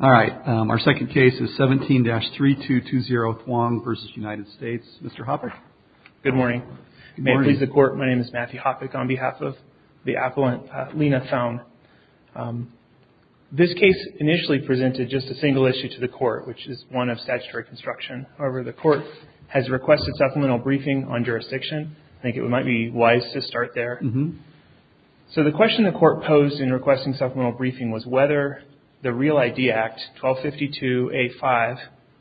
17-3220 Thuong v. United States This case initially presented just a single issue to the court, which is one of statutory construction. However, the court has requested supplemental briefing on jurisdiction. I think it might be wise to start there. So the question the court posed in requesting supplemental briefing was whether the Real ID Act 1252A5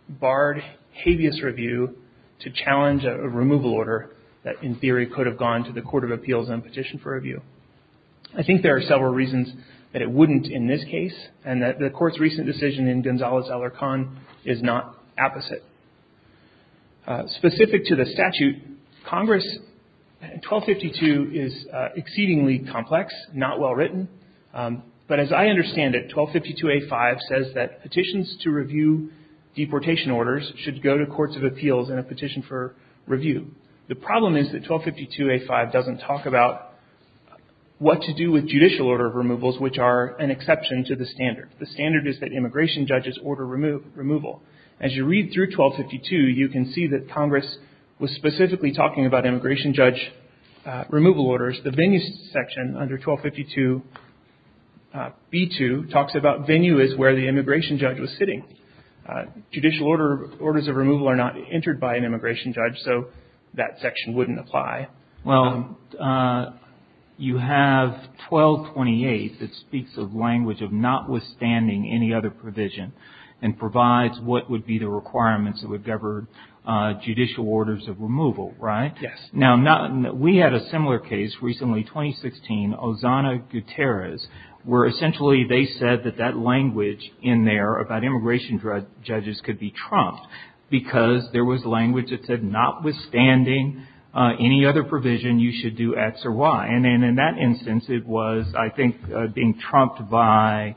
barred habeas review to challenge a removal order that in theory could have gone to the Court of Appeals and petitioned for review. I think there are several reasons that it wouldn't in this case, and that the court's recent decision in Gonzales-Ellar Conn is not apposite. Specific to the statute, Congress 1252 is exceedingly complex, not well written. But as I understand it, 1252A5 says that petitions to review deportation orders should go to Courts of Appeals in a petition for review. The problem is that 1252A5 doesn't talk about what to do with judicial order of removals, which are an exception to the standard. The standard is that immigration judges order removal. As you read through 1252, you can see that Congress was specifically talking about immigration judge removal orders. The venue section under 1252B2 talks about venue as where the immigration judge was sitting. Judicial orders of removal are not entered by an immigration judge, so that section wouldn't apply. Well, you have 1228 that speaks of language of notwithstanding any other provision and provides what would be the requirements that would govern judicial orders of removal, right? Yes. Now, we had a similar case recently, 2016, Ozana Gutierrez, where essentially they said that that language in there about immigration judges could be trumped because there was language that said notwithstanding any other provision, you should do X or Y. And in that instance, it was, I think, being trumped by,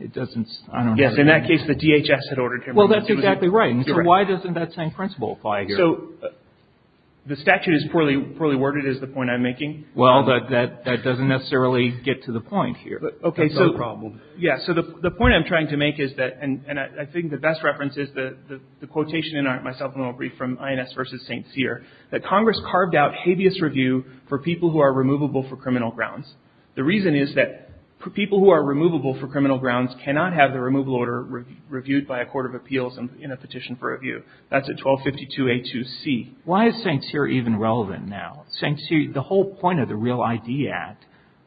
it doesn't, I don't know. Yes. In that case, the DHS had ordered him. Well, that's exactly right. And so why doesn't that same principle apply here? So the statute is poorly worded is the point I'm making. Well, that doesn't necessarily get to the point here. Okay. That's our problem. Yes. So the point I'm trying to make is that, and I think the best reference is the quotation in my supplemental brief from INS v. St. Cyr, that Congress carved out habeas review for people who are removable for criminal grounds. The reason is that people who are removable for criminal grounds cannot have the removal order reviewed by a court of appeals in a petition for review. That's at 1252A2C. Why is St. Cyr even relevant now? St. Cyr, the whole point of the REAL ID Act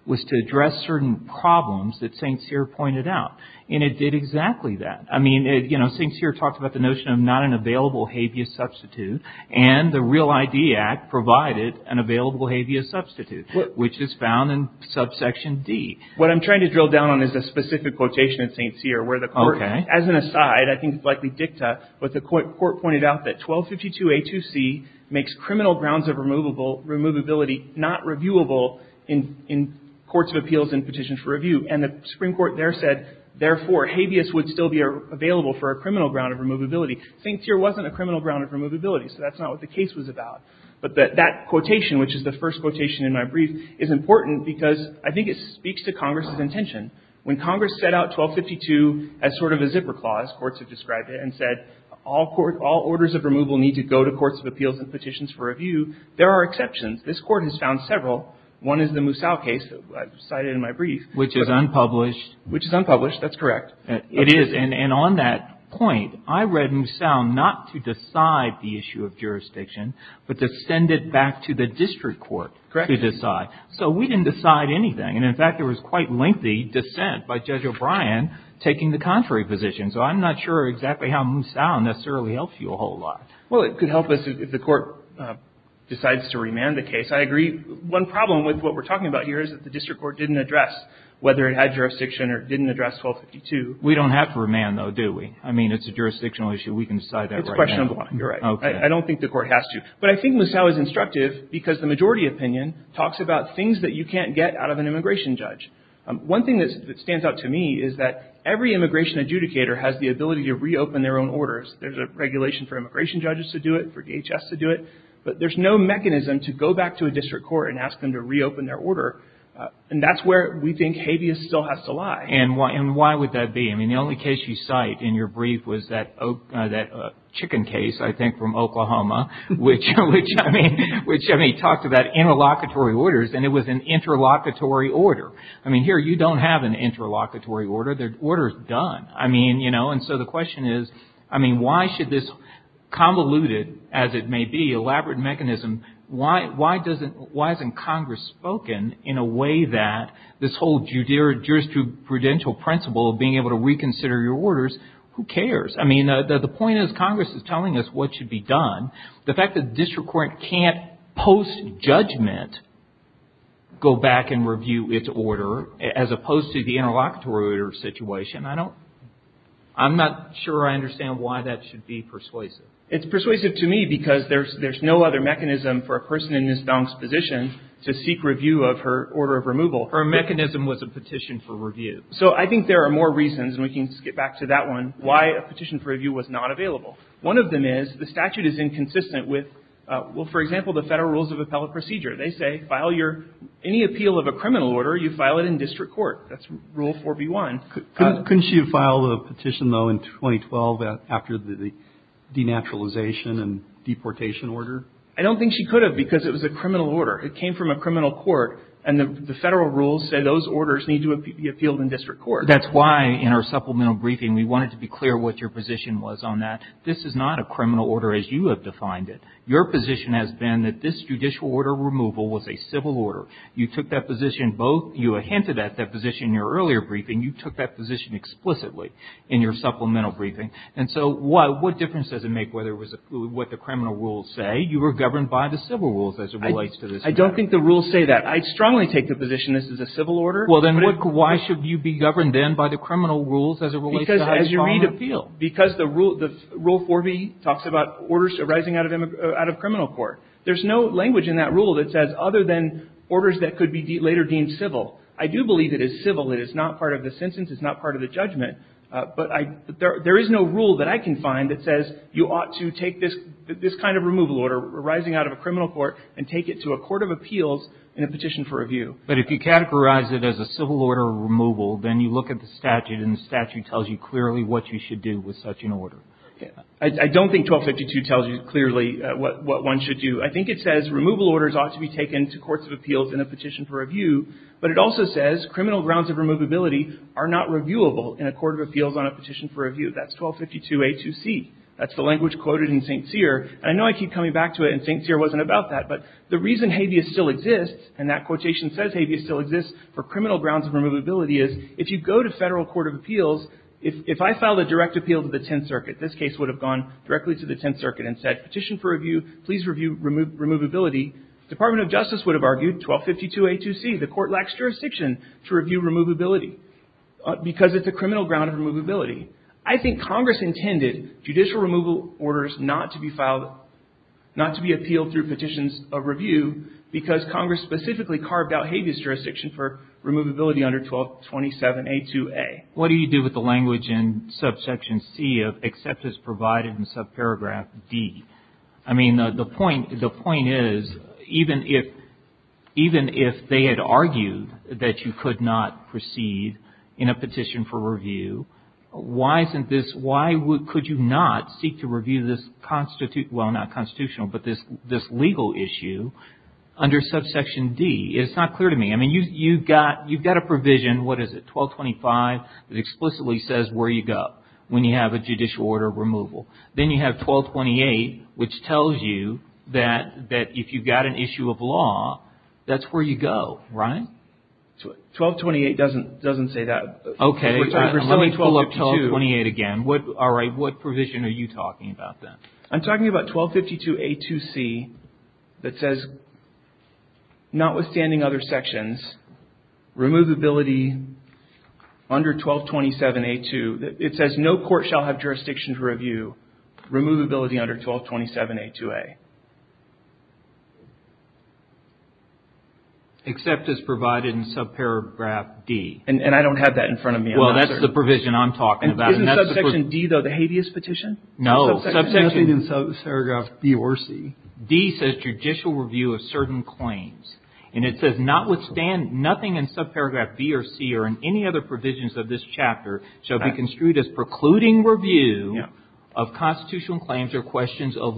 was to address certain problems that St. Cyr pointed out. And it did exactly that. I mean, you know, St. Cyr talked about the notion of not an available habeas substitute. And the REAL ID Act provided an available habeas substitute, which is found in subsection D. What I'm trying to drill down on is a specific quotation in St. Cyr where the court, as an aside, I think it's likely dicta, but the court pointed out that 1252A2C makes criminal grounds of removability not reviewable in courts of appeals and petitions for review. And the Supreme Court there said, therefore, habeas would still be available for a criminal ground of removability. St. Cyr wasn't a criminal ground of removability. So that's not what the case was about. But that quotation, which is the first quotation in my brief, is important because I think it speaks to Congress's intention. When Congress set out 1252 as sort of a zipper clause, courts have described it, and said all orders of removal need to go to courts of appeals and petitions for review, there are exceptions. One is the Moussau case I cited in my brief. Which is unpublished. Which is unpublished. That's correct. It is. And on that point, I read Moussau not to decide the issue of jurisdiction, but to send it back to the district court to decide. Correct. So we didn't decide anything. And, in fact, there was quite lengthy dissent by Judge O'Brien taking the contrary position. So I'm not sure exactly how Moussau necessarily helps you a whole lot. Well, it could help us if the court decides to remand the case. I agree. One problem with what we're talking about here is that the district court didn't address whether it had jurisdiction or didn't address 1252. We don't have to remand, though, do we? I mean, it's a jurisdictional issue. We can decide that right now. It's question number one. You're right. Okay. I don't think the court has to. But I think Moussau is instructive because the majority opinion talks about things that you can't get out of an immigration judge. One thing that stands out to me is that every immigration adjudicator has the ability to reopen their own orders. There's a regulation for immigration judges to do it, for DHS to do it. But there's no mechanism to go back to a district court and ask them to reopen their order. And that's where we think habeas still has to lie. And why would that be? I mean, the only case you cite in your brief was that chicken case, I think, from Oklahoma, which, I mean, talked about interlocutory orders, and it was an interlocutory order. I mean, here you don't have an interlocutory order. The order is done. And so the question is, I mean, why should this convoluted, as it may be, elaborate mechanism, why isn't Congress spoken in a way that this whole jurisprudential principle of being able to reconsider your orders, who cares? I mean, the point is Congress is telling us what should be done. The fact that the district court can't post-judgment go back and review its order as opposed to the interlocutory order situation, I don't – I'm not sure I understand why that should be persuasive. It's persuasive to me because there's no other mechanism for a person in Ms. Dong's position to seek review of her order of removal. Her mechanism was a petition for review. So I think there are more reasons, and we can skip back to that one, why a petition for review was not available. One of them is the statute is inconsistent with, well, for example, the federal rules of appellate procedure. They say file your – any appeal of a criminal order, you file it in district court. That's Rule 4B1. Couldn't she have filed a petition, though, in 2012 after the denaturalization and deportation order? I don't think she could have because it was a criminal order. It came from a criminal court, and the federal rules say those orders need to be appealed in district court. That's why in our supplemental briefing we wanted to be clear what your position was on that. This is not a criminal order as you have defined it. Your position has been that this judicial order removal was a civil order. You took that position both – you hinted at that position in your earlier briefing. You took that position explicitly in your supplemental briefing. And so what difference does it make whether it was – what the criminal rules say? You were governed by the civil rules as it relates to this matter. I don't think the rules say that. I strongly take the position this is a civil order. Well, then why should you be governed, then, by the criminal rules as it relates to this matter? Because you read appeal. Because the Rule 4B talks about orders arising out of criminal court. There's no language in that rule that says other than orders that could be later deemed civil. I do believe it is civil. It is not part of the sentence. It's not part of the judgment. But I – there is no rule that I can find that says you ought to take this kind of removal order arising out of a criminal court and take it to a court of appeals in a petition for review. But if you categorize it as a civil order removal, then you look at the statute and the statute tells you clearly what you should do with such an order. I don't think 1252 tells you clearly what one should do. I think it says removal orders ought to be taken to courts of appeals in a petition for review. But it also says criminal grounds of removability are not reviewable in a court of appeals on a petition for review. That's 1252A2C. That's the language quoted in St. Cyr. And I know I keep coming back to it, and St. Cyr wasn't about that. But the reason habeas still exists, and that quotation says habeas still exists for criminal grounds of removability, is if you go to federal court of appeals, if I filed a direct appeal to the Tenth Circuit, this case would have gone directly to the Tenth Circuit and said, petition for review, please review removability. The Department of Justice would have argued, 1252A2C, the court lacks jurisdiction to review removability because it's a criminal ground of removability. I think Congress intended judicial removal orders not to be filed, not to be appealed through petitions of review, because Congress specifically carved out habeas jurisdiction for removability under 1227A2A. What do you do with the language in subsection C of except as provided in subparagraph D? I mean, the point is, even if they had argued that you could not proceed in a petition for review, why isn't this, why could you not seek to review this constitutional, well, not constitutional, but this legal issue under subsection D? It's not clear to me. I mean, you've got a provision, what is it, 1225, that explicitly says where you go when you have a judicial order of removal. Then you have 1228, which tells you that if you've got an issue of law, that's where you go, right? 1228 doesn't say that. Okay. Let me pull up 1228 again. All right. What provision are you talking about then? I'm talking about 1252A2C that says, notwithstanding other sections, removability under 1227A2, it says no court shall have jurisdiction to review removability under 1227A2A. Except as provided in subparagraph D. And I don't have that in front of me. Well, that's the provision I'm talking about. Isn't subsection D, though, the habeas petition? No. Subsection D says judicial review of certain claims. And it says notwithstanding nothing in subparagraph B or C or in any other provisions of this chapter shall be construed as precluding review of constitutional claims or questions of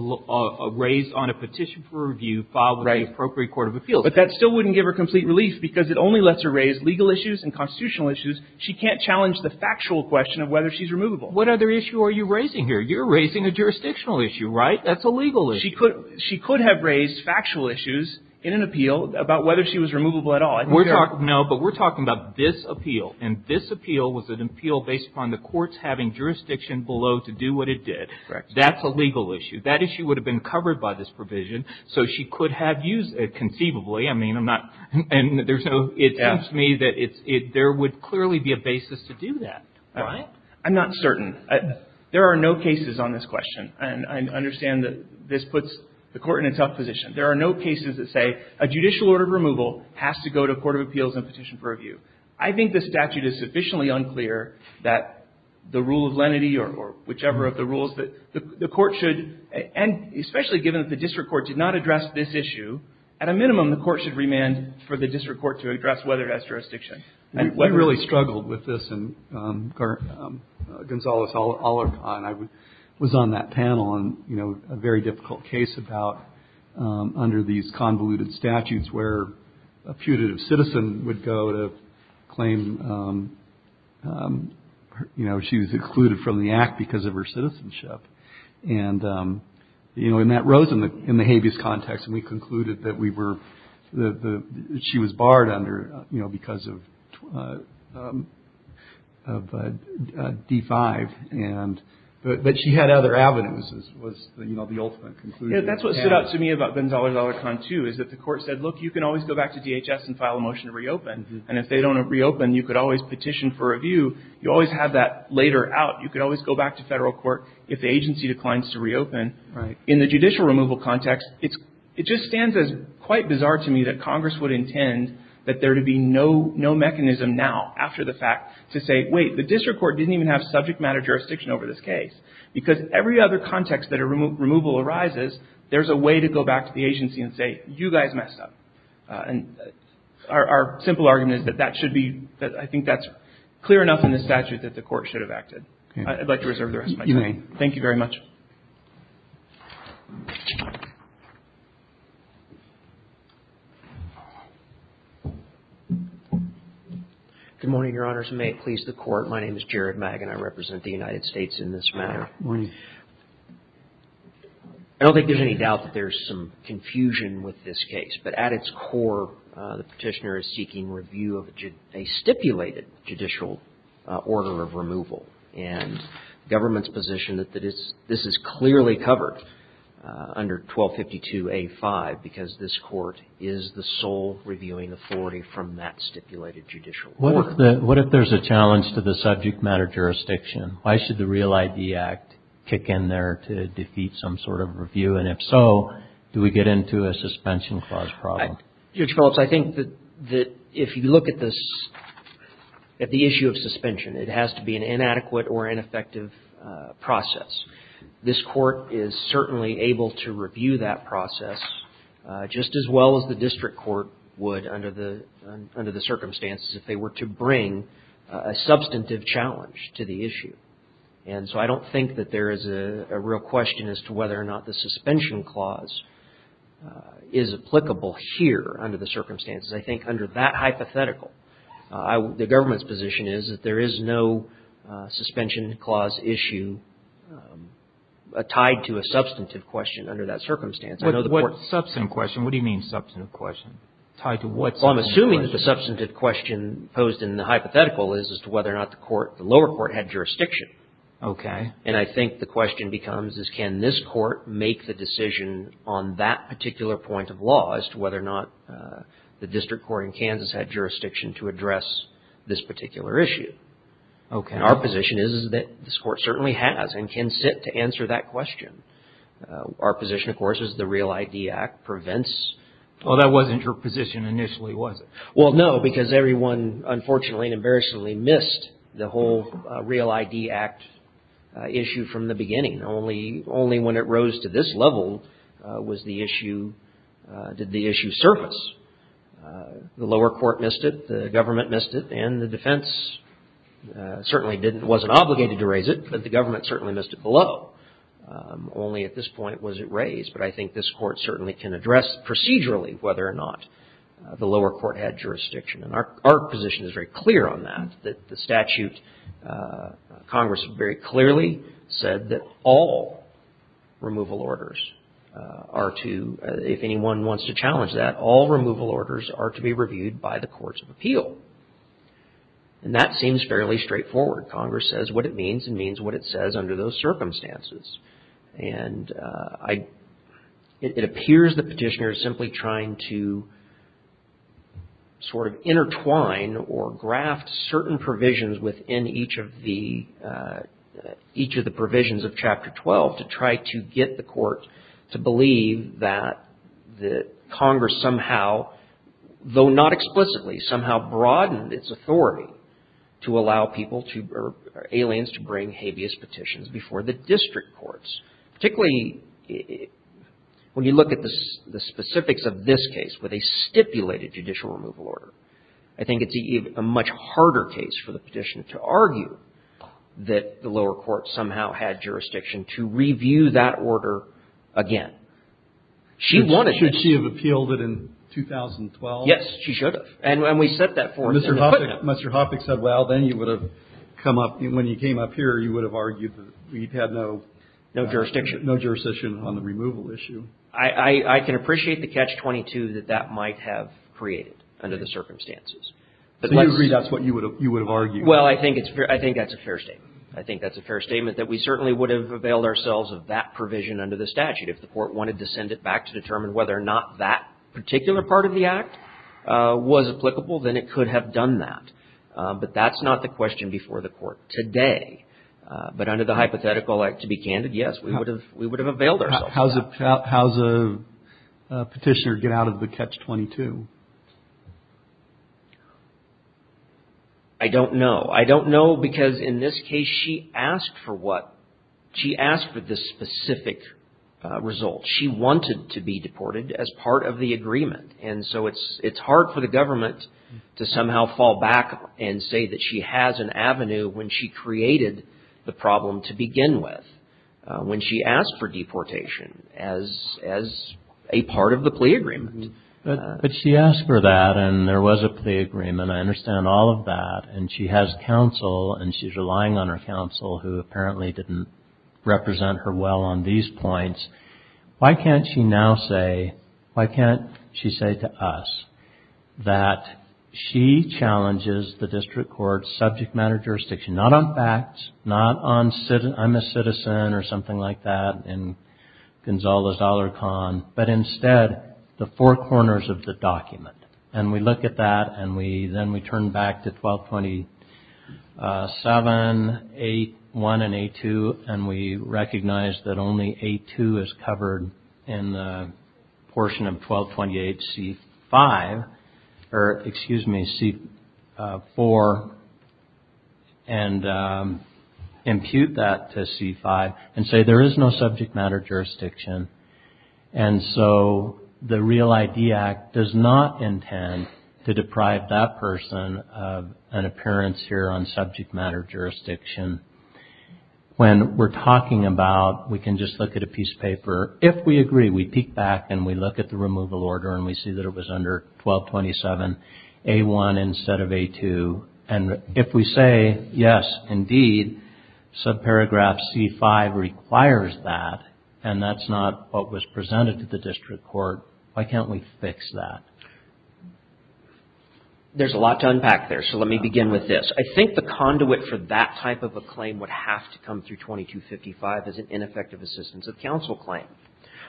raised on a petition for review filed with the appropriate court of appeals. But that still wouldn't give her complete relief because it only lets her raise legal issues and constitutional issues. She can't challenge the factual question of whether she's removable. What other issue are you raising here? You're raising a jurisdictional issue, right? That's a legal issue. She could have raised factual issues in an appeal about whether she was removable at all. No, but we're talking about this appeal. And this appeal was an appeal based upon the courts having jurisdiction below to do what it did. Correct. That's a legal issue. That issue would have been covered by this provision, so she could have used it conceivably. I mean, I'm not – and there's no – it seems to me that there would clearly be a basis to do that. Right? I'm not certain. There are no cases on this question. And I understand that this puts the Court in a tough position. There are no cases that say a judicial order of removal has to go to a court of appeals and petition for review. I think the statute is sufficiently unclear that the rule of lenity or whichever of the rules that the Court should – and especially given that the district court did not address this issue, at a minimum, the Court should remand for the district court to address whether it has jurisdiction. And we really struggled with this in Gonzales-Alarcon. I was on that panel on, you know, a very difficult case about – under these convoluted statutes where a putative citizen would go to claim, you know, she was excluded from the act because of her citizenship. And, you know, and that rose in the habeas context, and we concluded that we were – that she was barred under, you know, because of D-5. But she had other avenues, was, you know, the ultimate conclusion. That's what stood out to me about Gonzales-Alarcon, too, is that the Court said, look, you can always go back to DHS and file a motion to reopen. And if they don't reopen, you could always petition for review. You always have that later out. You could always go back to federal court if the agency declines to reopen. Right. In the judicial removal context, it's – it just stands as quite bizarre to me that Congress would intend that there to be no mechanism now after the fact to say, wait, the district court didn't even have subject matter jurisdiction over this case. Because every other context that a removal arises, there's a way to go back to the agency and say, you guys messed up. And our simple argument is that that should be – that I think that's clear enough in the statute that the Court should have acted. I'd like to reserve the rest of my time. You may. Thank you very much. Good morning, Your Honors. May it please the Court. My name is Jared Magin. I represent the United States in this matter. Good morning. I don't think there's any doubt that there's some confusion with this case. But at its core, the Petitioner is seeking review of a stipulated judicial order of removal. And the government's position that it's – this is clearly covered under 1252A5 because this Court is the sole reviewing authority from that stipulated judicial order. What if there's a challenge to the subject matter jurisdiction? Why should the Real ID Act kick in there to defeat some sort of review? And if so, do we get into a suspension clause problem? Judge Phillips, I think that if you look at this – at the issue of suspension, it has to be an inadequate or ineffective process. This Court is certainly able to review that process just as well as the district court would under the circumstances if they were to bring a substantive challenge to the issue. And so I don't think that there is a real question as to whether or not the suspension clause is applicable here under the circumstances. I think under that hypothetical, the government's position is that there is no suspension clause issue tied to a substantive question under that circumstance. What substantive question? What do you mean substantive question? Tied to what substantive question? Well, I'm assuming that the substantive question posed in the hypothetical is as to whether or not the lower court had jurisdiction. Okay. And I think the question becomes is can this Court make the decision on that particular point of law as to whether or not the district court in Kansas had jurisdiction to address this particular issue. Okay. And our position is that this Court certainly has and can sit to answer that question. Our position, of course, is the REAL ID Act prevents – Well, that wasn't your position initially, was it? Well, no, because everyone unfortunately and embarrassingly missed the whole REAL ID Act issue from the beginning. Only when it rose to this level was the issue – did the issue surface. The lower court missed it. The government missed it. And the defense certainly didn't – wasn't obligated to raise it, but the government certainly missed it below. Only at this point was it raised. But I think this Court certainly can address procedurally whether or not the lower court had jurisdiction. And our position is very clear on that, that the statute – Congress very clearly said that all removal orders are to – if anyone wants to challenge that, all removal orders are to be reviewed by the courts of appeal. And that seems fairly straightforward. Congress says what it means and means what it says under those circumstances. And I – it appears the petitioner is simply trying to sort of intertwine or graft certain provisions within each of the – each of the provisions of Chapter 12 to try to get the court to believe that the Congress somehow, though not explicitly, somehow broadened its authority to allow people to – or aliens to bring habeas petitions before the district courts. Particularly when you look at the specifics of this case with a stipulated judicial removal order, I think it's a much harder case for the petitioner to argue that the lower court somehow had jurisdiction to review that order again. She wanted it. Should she have appealed it in 2012? Yes, she should have. And we set that forth in the – Mr. Hoppeck said, well, then you would have come up – when you came up here, you would have argued that we had no – No jurisdiction. No jurisdiction on the removal issue. I can appreciate the catch-22 that that might have created under the circumstances. But let's – So you agree that's what you would have argued? Well, I think it's – I think that's a fair statement. I think that's a fair statement that we certainly would have availed ourselves of that provision under the statute. If the court wanted to send it back to determine whether or not that particular part of the act was applicable, then it could have done that. But that's not the question before the court today. But under the hypothetical, to be candid, yes, we would have availed ourselves of that. How does a petitioner get out of the catch-22? I don't know. I don't know because in this case, she asked for what – she asked for this specific result. She wanted to be deported as part of the agreement. And so it's hard for the government to somehow fall back and say that she has an avenue when she created the problem to begin with, when she asked for deportation as a part of the plea agreement. But she asked for that, and there was a plea agreement. I understand all of that. And she has counsel, and she's relying on her counsel, who apparently didn't represent her well on these points. Why can't she now say – why can't she say to us that she challenges the district court's subject matter jurisdiction, not on facts, not on I'm a citizen or something like that in Gonzalo's dollar con, but instead the four corners of the document. And we look at that, and then we turn back to 1227, 8-1 and 8-2, and we recognize that only 8-2 is covered in the portion of 1228 C-5, or excuse me, C-4, and impute that to C-5 and say there is no subject matter jurisdiction. And so the Real ID Act does not intend to deprive that person of an appearance here on subject matter jurisdiction. When we're talking about – we can just look at a piece of paper. If we agree, we peek back and we look at the removal order and we see that it was under 1227 A-1 instead of A-2. And if we say, yes, indeed, subparagraph C-5 requires that, and that's not what was presented to the district court, why can't we fix that? There's a lot to unpack there, so let me begin with this. I think the conduit for that type of a claim would have to come through 2255 as an ineffective assistance of counsel claim.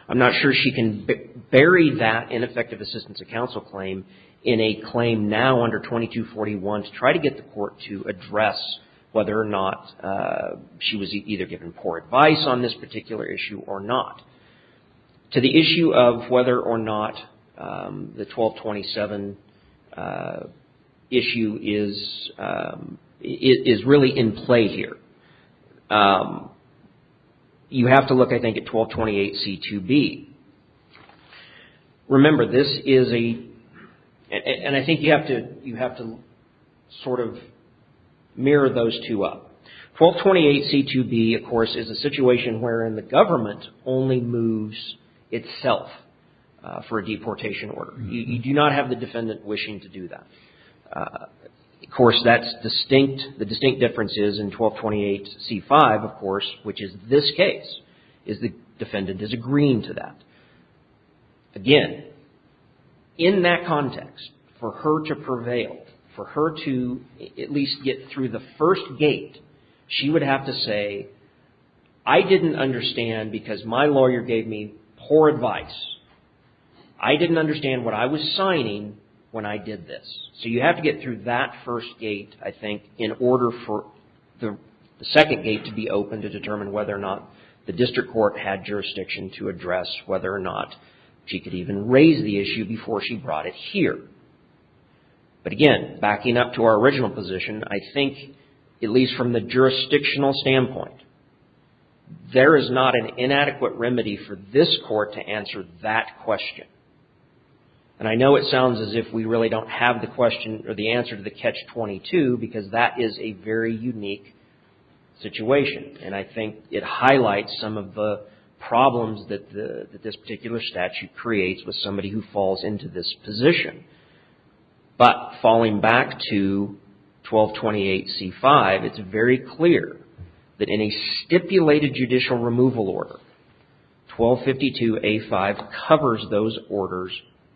I'm not sure she can bury that ineffective assistance of counsel claim in a claim now under 2241 to try to get the court to address whether or not she was either given poor advice on this particular issue or not. To the issue of whether or not the 1227 issue is really in play here, you have to look, I think, at 1228 C-2B. Remember, this is a – and I think you have to sort of mirror those two up. 1228 C-2B, of course, is a situation wherein the government only moves itself for a deportation order. You do not have the defendant wishing to do that. Of course, that's distinct – the distinct difference is in 1228 C-5, of course, which is this case, is the defendant disagreeing to that. Again, in that context, for her to prevail, for her to at least get through the first gate, she would have to say, I didn't understand because my lawyer gave me poor advice. I didn't understand what I was signing when I did this. So you have to get through that first gate, I think, in order for the second gate to be open to determine whether or not the district court had jurisdiction to address whether or not she could even raise the issue before she brought it here. But again, backing up to our original position, I think, at least from the jurisdictional standpoint, there is not an inadequate remedy for this court to answer that question. And I know it sounds as if we really don't have the question or the answer to the Catch-22 because that is a very unique situation. And I think it highlights some of the problems that this particular statute creates with somebody who falls into this position. But falling back to 1228 C-5, it's very clear that in a stipulated judicial removal order, 1252 A-5 covers those orders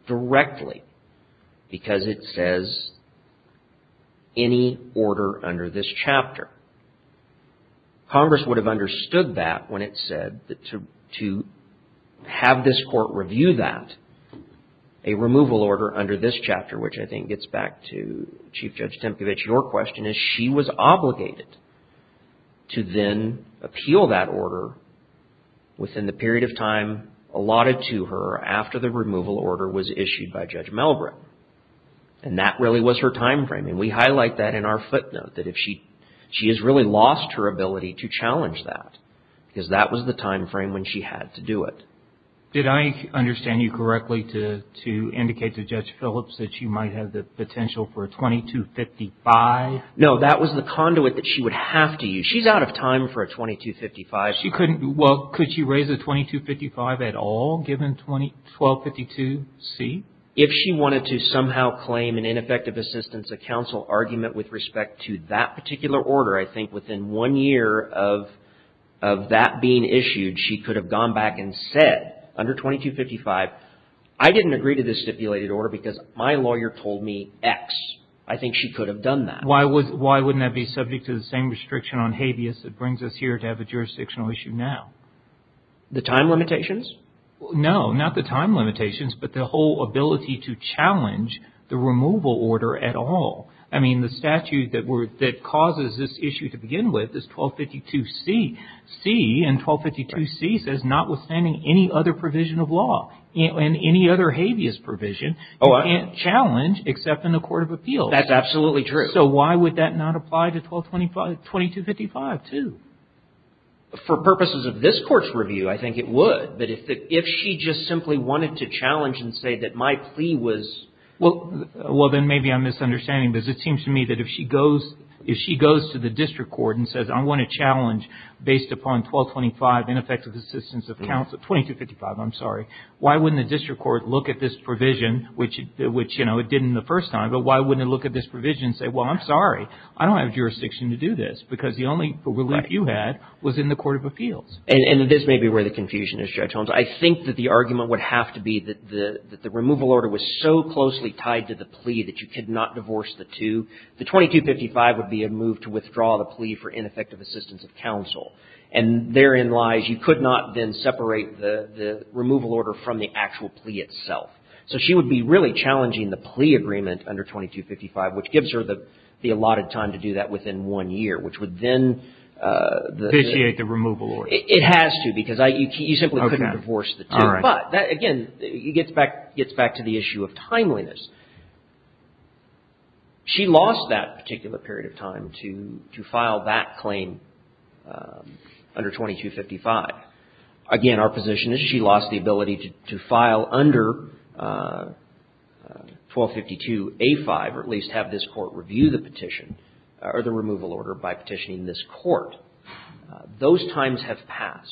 directly because it says any order under this chapter. Congress would have understood that when it said that to have this court review that, a removal order under this chapter, which I think gets back to Chief Judge Tempevich, your question is she was obligated to then appeal that order within the period of time allotted to her after the removal order was issued by Judge Melbrick. And that really was her time frame. And we highlight that in our footnote, that she has really lost her ability to challenge that because that was the time frame when she had to do it. Did I understand you correctly to indicate to Judge Phillips that she might have the potential for a 2255? No, that was the conduit that she would have to use. She's out of time for a 2255. Well, could she raise a 2255 at all given 1252 C? If she wanted to somehow claim an ineffective assistance of counsel argument with respect to that particular order, I think within one year of that being issued, she could have gone back and said under 2255, I didn't agree to this stipulated order because my lawyer told me X. I think she could have done that. Why wouldn't that be subject to the same restriction on habeas that brings us here to have a jurisdictional issue now? The time limitations? No, not the time limitations, but the whole ability to challenge the removal order at all. I mean, the statute that causes this issue to begin with is 1252 C. C in 1252 C says notwithstanding any other provision of law and any other habeas provision, you can't challenge except in a court of appeals. That's absolutely true. So why would that not apply to 2255 too? For purposes of this Court's review, I think it would. But if she just simply wanted to challenge and say that my plea was... Well, then maybe I'm misunderstanding. Because it seems to me that if she goes to the district court and says, I want to challenge based upon 1225 ineffective assistance of counsel, 2255, I'm sorry, why wouldn't the district court look at this provision, which, you know, it did in the first time, but why wouldn't it look at this provision and say, well, I'm sorry, I don't have jurisdiction to do this? Because the only relief you had was in the court of appeals. And this may be where the confusion is, Judge Holmes. I think that the argument would have to be that the removal order was so closely tied to the plea that you could not divorce the two. The 2255 would be a move to withdraw the plea for ineffective assistance of counsel. And therein lies, you could not then separate the removal order from the actual plea itself. So she would be really challenging the plea agreement under 2255, which gives her the allotted time to do that within one year, which would then... Vitiate the removal order. It has to, because you simply couldn't divorce the two. But, again, it gets back to the issue of timeliness. She lost that particular period of time to file that claim under 2255. Again, our position is she lost the ability to file under 1252A5, or at least have this court review the petition, or the removal order by petitioning this court. Those times have passed.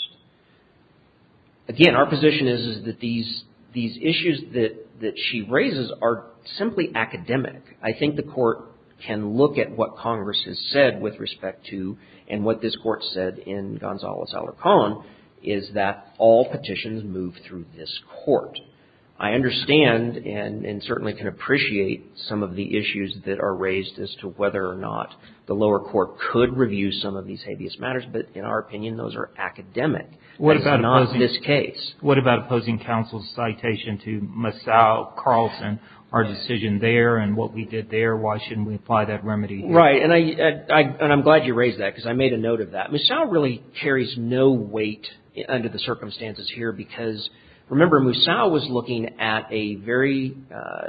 Again, our position is, is that these issues that she raises are simply academic. I think the court can look at what Congress has said with respect to, and what this court said in Gonzales-Alarcon, is that all petitions move through this court. I understand and certainly can appreciate some of the issues that are raised as to whether or not the lower court could review some of these habeas matters. But, in our opinion, those are academic. It's not this case. What about opposing counsel's citation to Moussaou, Carlson, our decision there, and what we did there? Why shouldn't we apply that remedy? Right. And I'm glad you raised that, because I made a note of that. Moussaou really carries no weight under the circumstances here, because, remember, Moussaou was looking at a very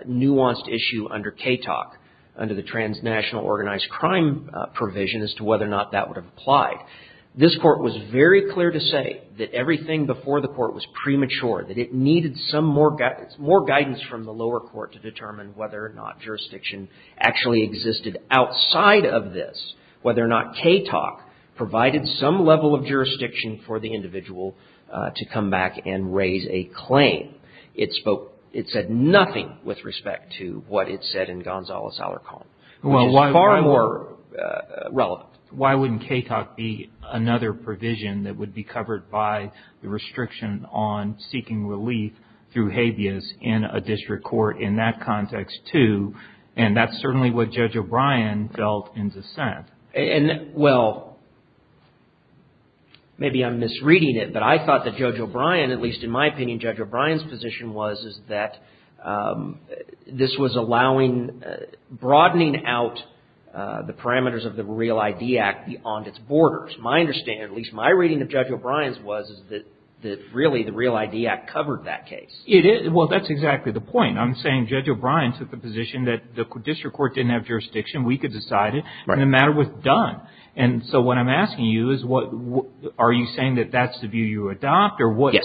nuanced issue under CATOC, under the transnational organized crime provision, as to whether or not that would have applied. This court was very clear to say that everything before the court was premature, that it needed some more guidance from the lower court to determine whether or not jurisdiction actually existed outside of this, whether or not CATOC provided some level of jurisdiction for the It said nothing with respect to what it said in Gonzales' outer column, which is far more relevant. Well, why wouldn't CATOC be another provision that would be covered by the restriction on seeking relief through habeas in a district court in that context, too? And that's certainly what Judge O'Brien felt in dissent. And, well, maybe I'm misreading it, but I thought that Judge O'Brien, at least in my opinion, Judge O'Brien's position was, is that this was allowing, broadening out the parameters of the Real ID Act beyond its borders. My understanding, at least my reading of Judge O'Brien's, was that really the Real ID Act covered that case. Well, that's exactly the point. I'm saying Judge O'Brien took the position that the district court didn't have jurisdiction. We could decide it, and the matter was done. And so what I'm asking you is, are you saying that that's the view you adopt? Yes.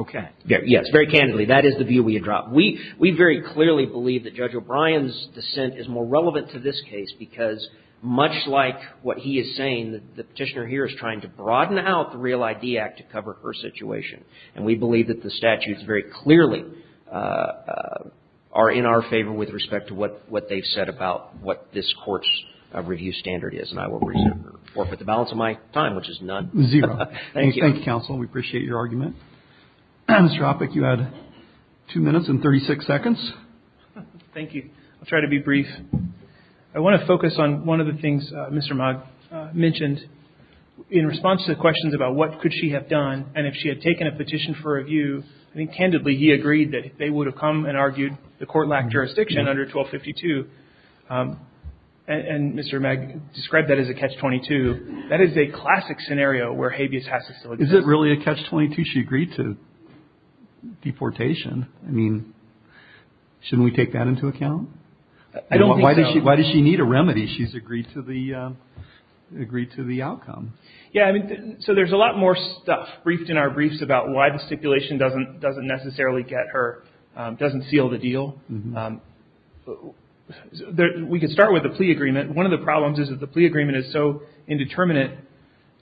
Okay. Yes. Very candidly, that is the view we adopt. We very clearly believe that Judge O'Brien's dissent is more relevant to this case, because much like what he is saying, the Petitioner here is trying to broaden out the Real ID Act to cover her situation. And we believe that the statutes very clearly are in our favor with respect to what they've said about what this Court's review standard is. And I will respect or forfeit the balance of my time, which is none. Zero. Thank you. Thank you, Counsel. We appreciate your argument. Mr. Oppik, you had 2 minutes and 36 seconds. Thank you. I'll try to be brief. I want to focus on one of the things Mr. Mag mentioned. In response to the questions about what could she have done, and if she had taken a petition for review, I think candidly he agreed that they would have come and argued the Court lacked jurisdiction under 1252. And Mr. Mag described that as a catch-22. That is a classic scenario where habeas has to still exist. Is it really a catch-22? She agreed to deportation. I mean, shouldn't we take that into account? I don't think so. Why does she need a remedy? She's agreed to the outcome. Yeah, I mean, so there's a lot more stuff briefed in our briefs about why the stipulation doesn't necessarily get her, doesn't seal the deal. We can start with the plea agreement. One of the problems is that the plea agreement is so indeterminate,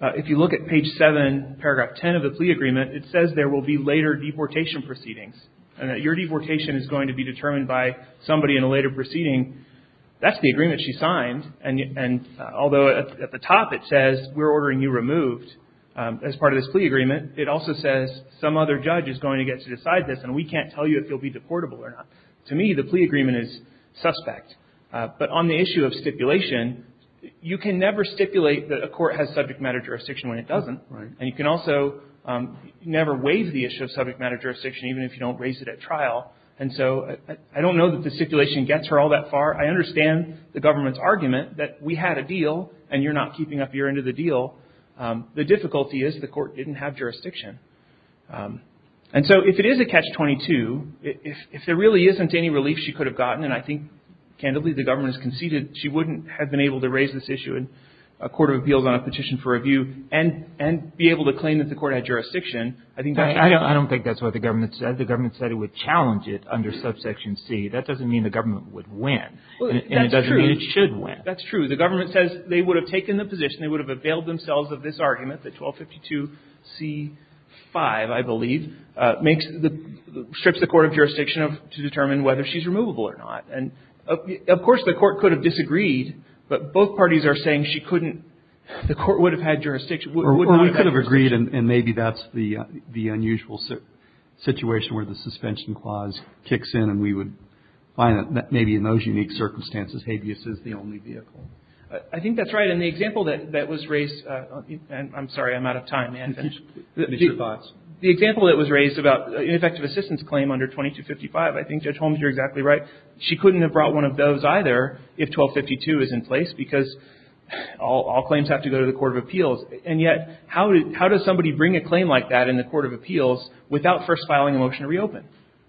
if you look at page 7, paragraph 10 of the plea agreement, it says there will be later deportation proceedings and that your deportation is going to be determined by somebody in a later proceeding. That's the agreement she signed, and although at the top it says we're ordering you removed as part of this plea agreement, it also says some other judge is going to get to decide this and we can't tell you if you'll be deportable or not. To me, the plea agreement is suspect. But on the issue of stipulation, you can never stipulate that a court has subject matter jurisdiction when it doesn't, and you can also never waive the issue of subject matter jurisdiction even if you don't raise it at trial. And so I don't know that the stipulation gets her all that far. I understand the government's argument that we had a deal and you're not keeping up your end of the deal. The difficulty is the court didn't have jurisdiction. And so if it is a catch-22, if there really isn't any relief she could have gotten, and I think, candidly, the government has conceded she wouldn't have been able to raise this issue in a court of appeals on a petition for review and be able to claim that the court had jurisdiction, I think that's the problem. I don't think that's what the government said. The government said it would challenge it under subsection C. That doesn't mean the government would win, and it doesn't mean it should win. Well, that's true. That's true. The government says they would have taken the position, they would have availed themselves of this argument, the 1252c5, I believe, makes the – strips the court of jurisdiction to determine whether she's removable or not. And, of course, the court could have disagreed, but both parties are saying she couldn't – the court would have had jurisdiction – would not have had jurisdiction. Or we could have agreed and maybe that's the unusual situation where the suspension clause kicks in and we would find that maybe in those unique circumstances habeas is the only vehicle. I think that's right. And the example that was raised – I'm sorry, I'm out of time, man. Finish. Finish your thoughts. The example that was raised about ineffective assistance claim under 2255, I think Judge Holmes, you're exactly right. She couldn't have brought one of those either if 1252 is in place because all claims have to go to the court of appeals. And yet, how does somebody bring a claim like that in the court of appeals without first filing a motion to reopen?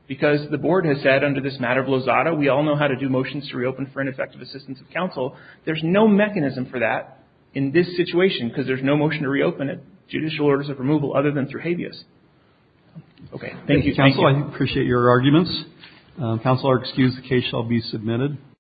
Because the Board has said under this matter of Lozada, we all know how to do motions to reopen for ineffective assistance of counsel. There's no mechanism for that in this situation because there's no motion to reopen at judicial orders of removal other than through habeas. Okay. Thank you. Thank you. Counsel, I appreciate your arguments. Counsel, excuse the case shall be submitted.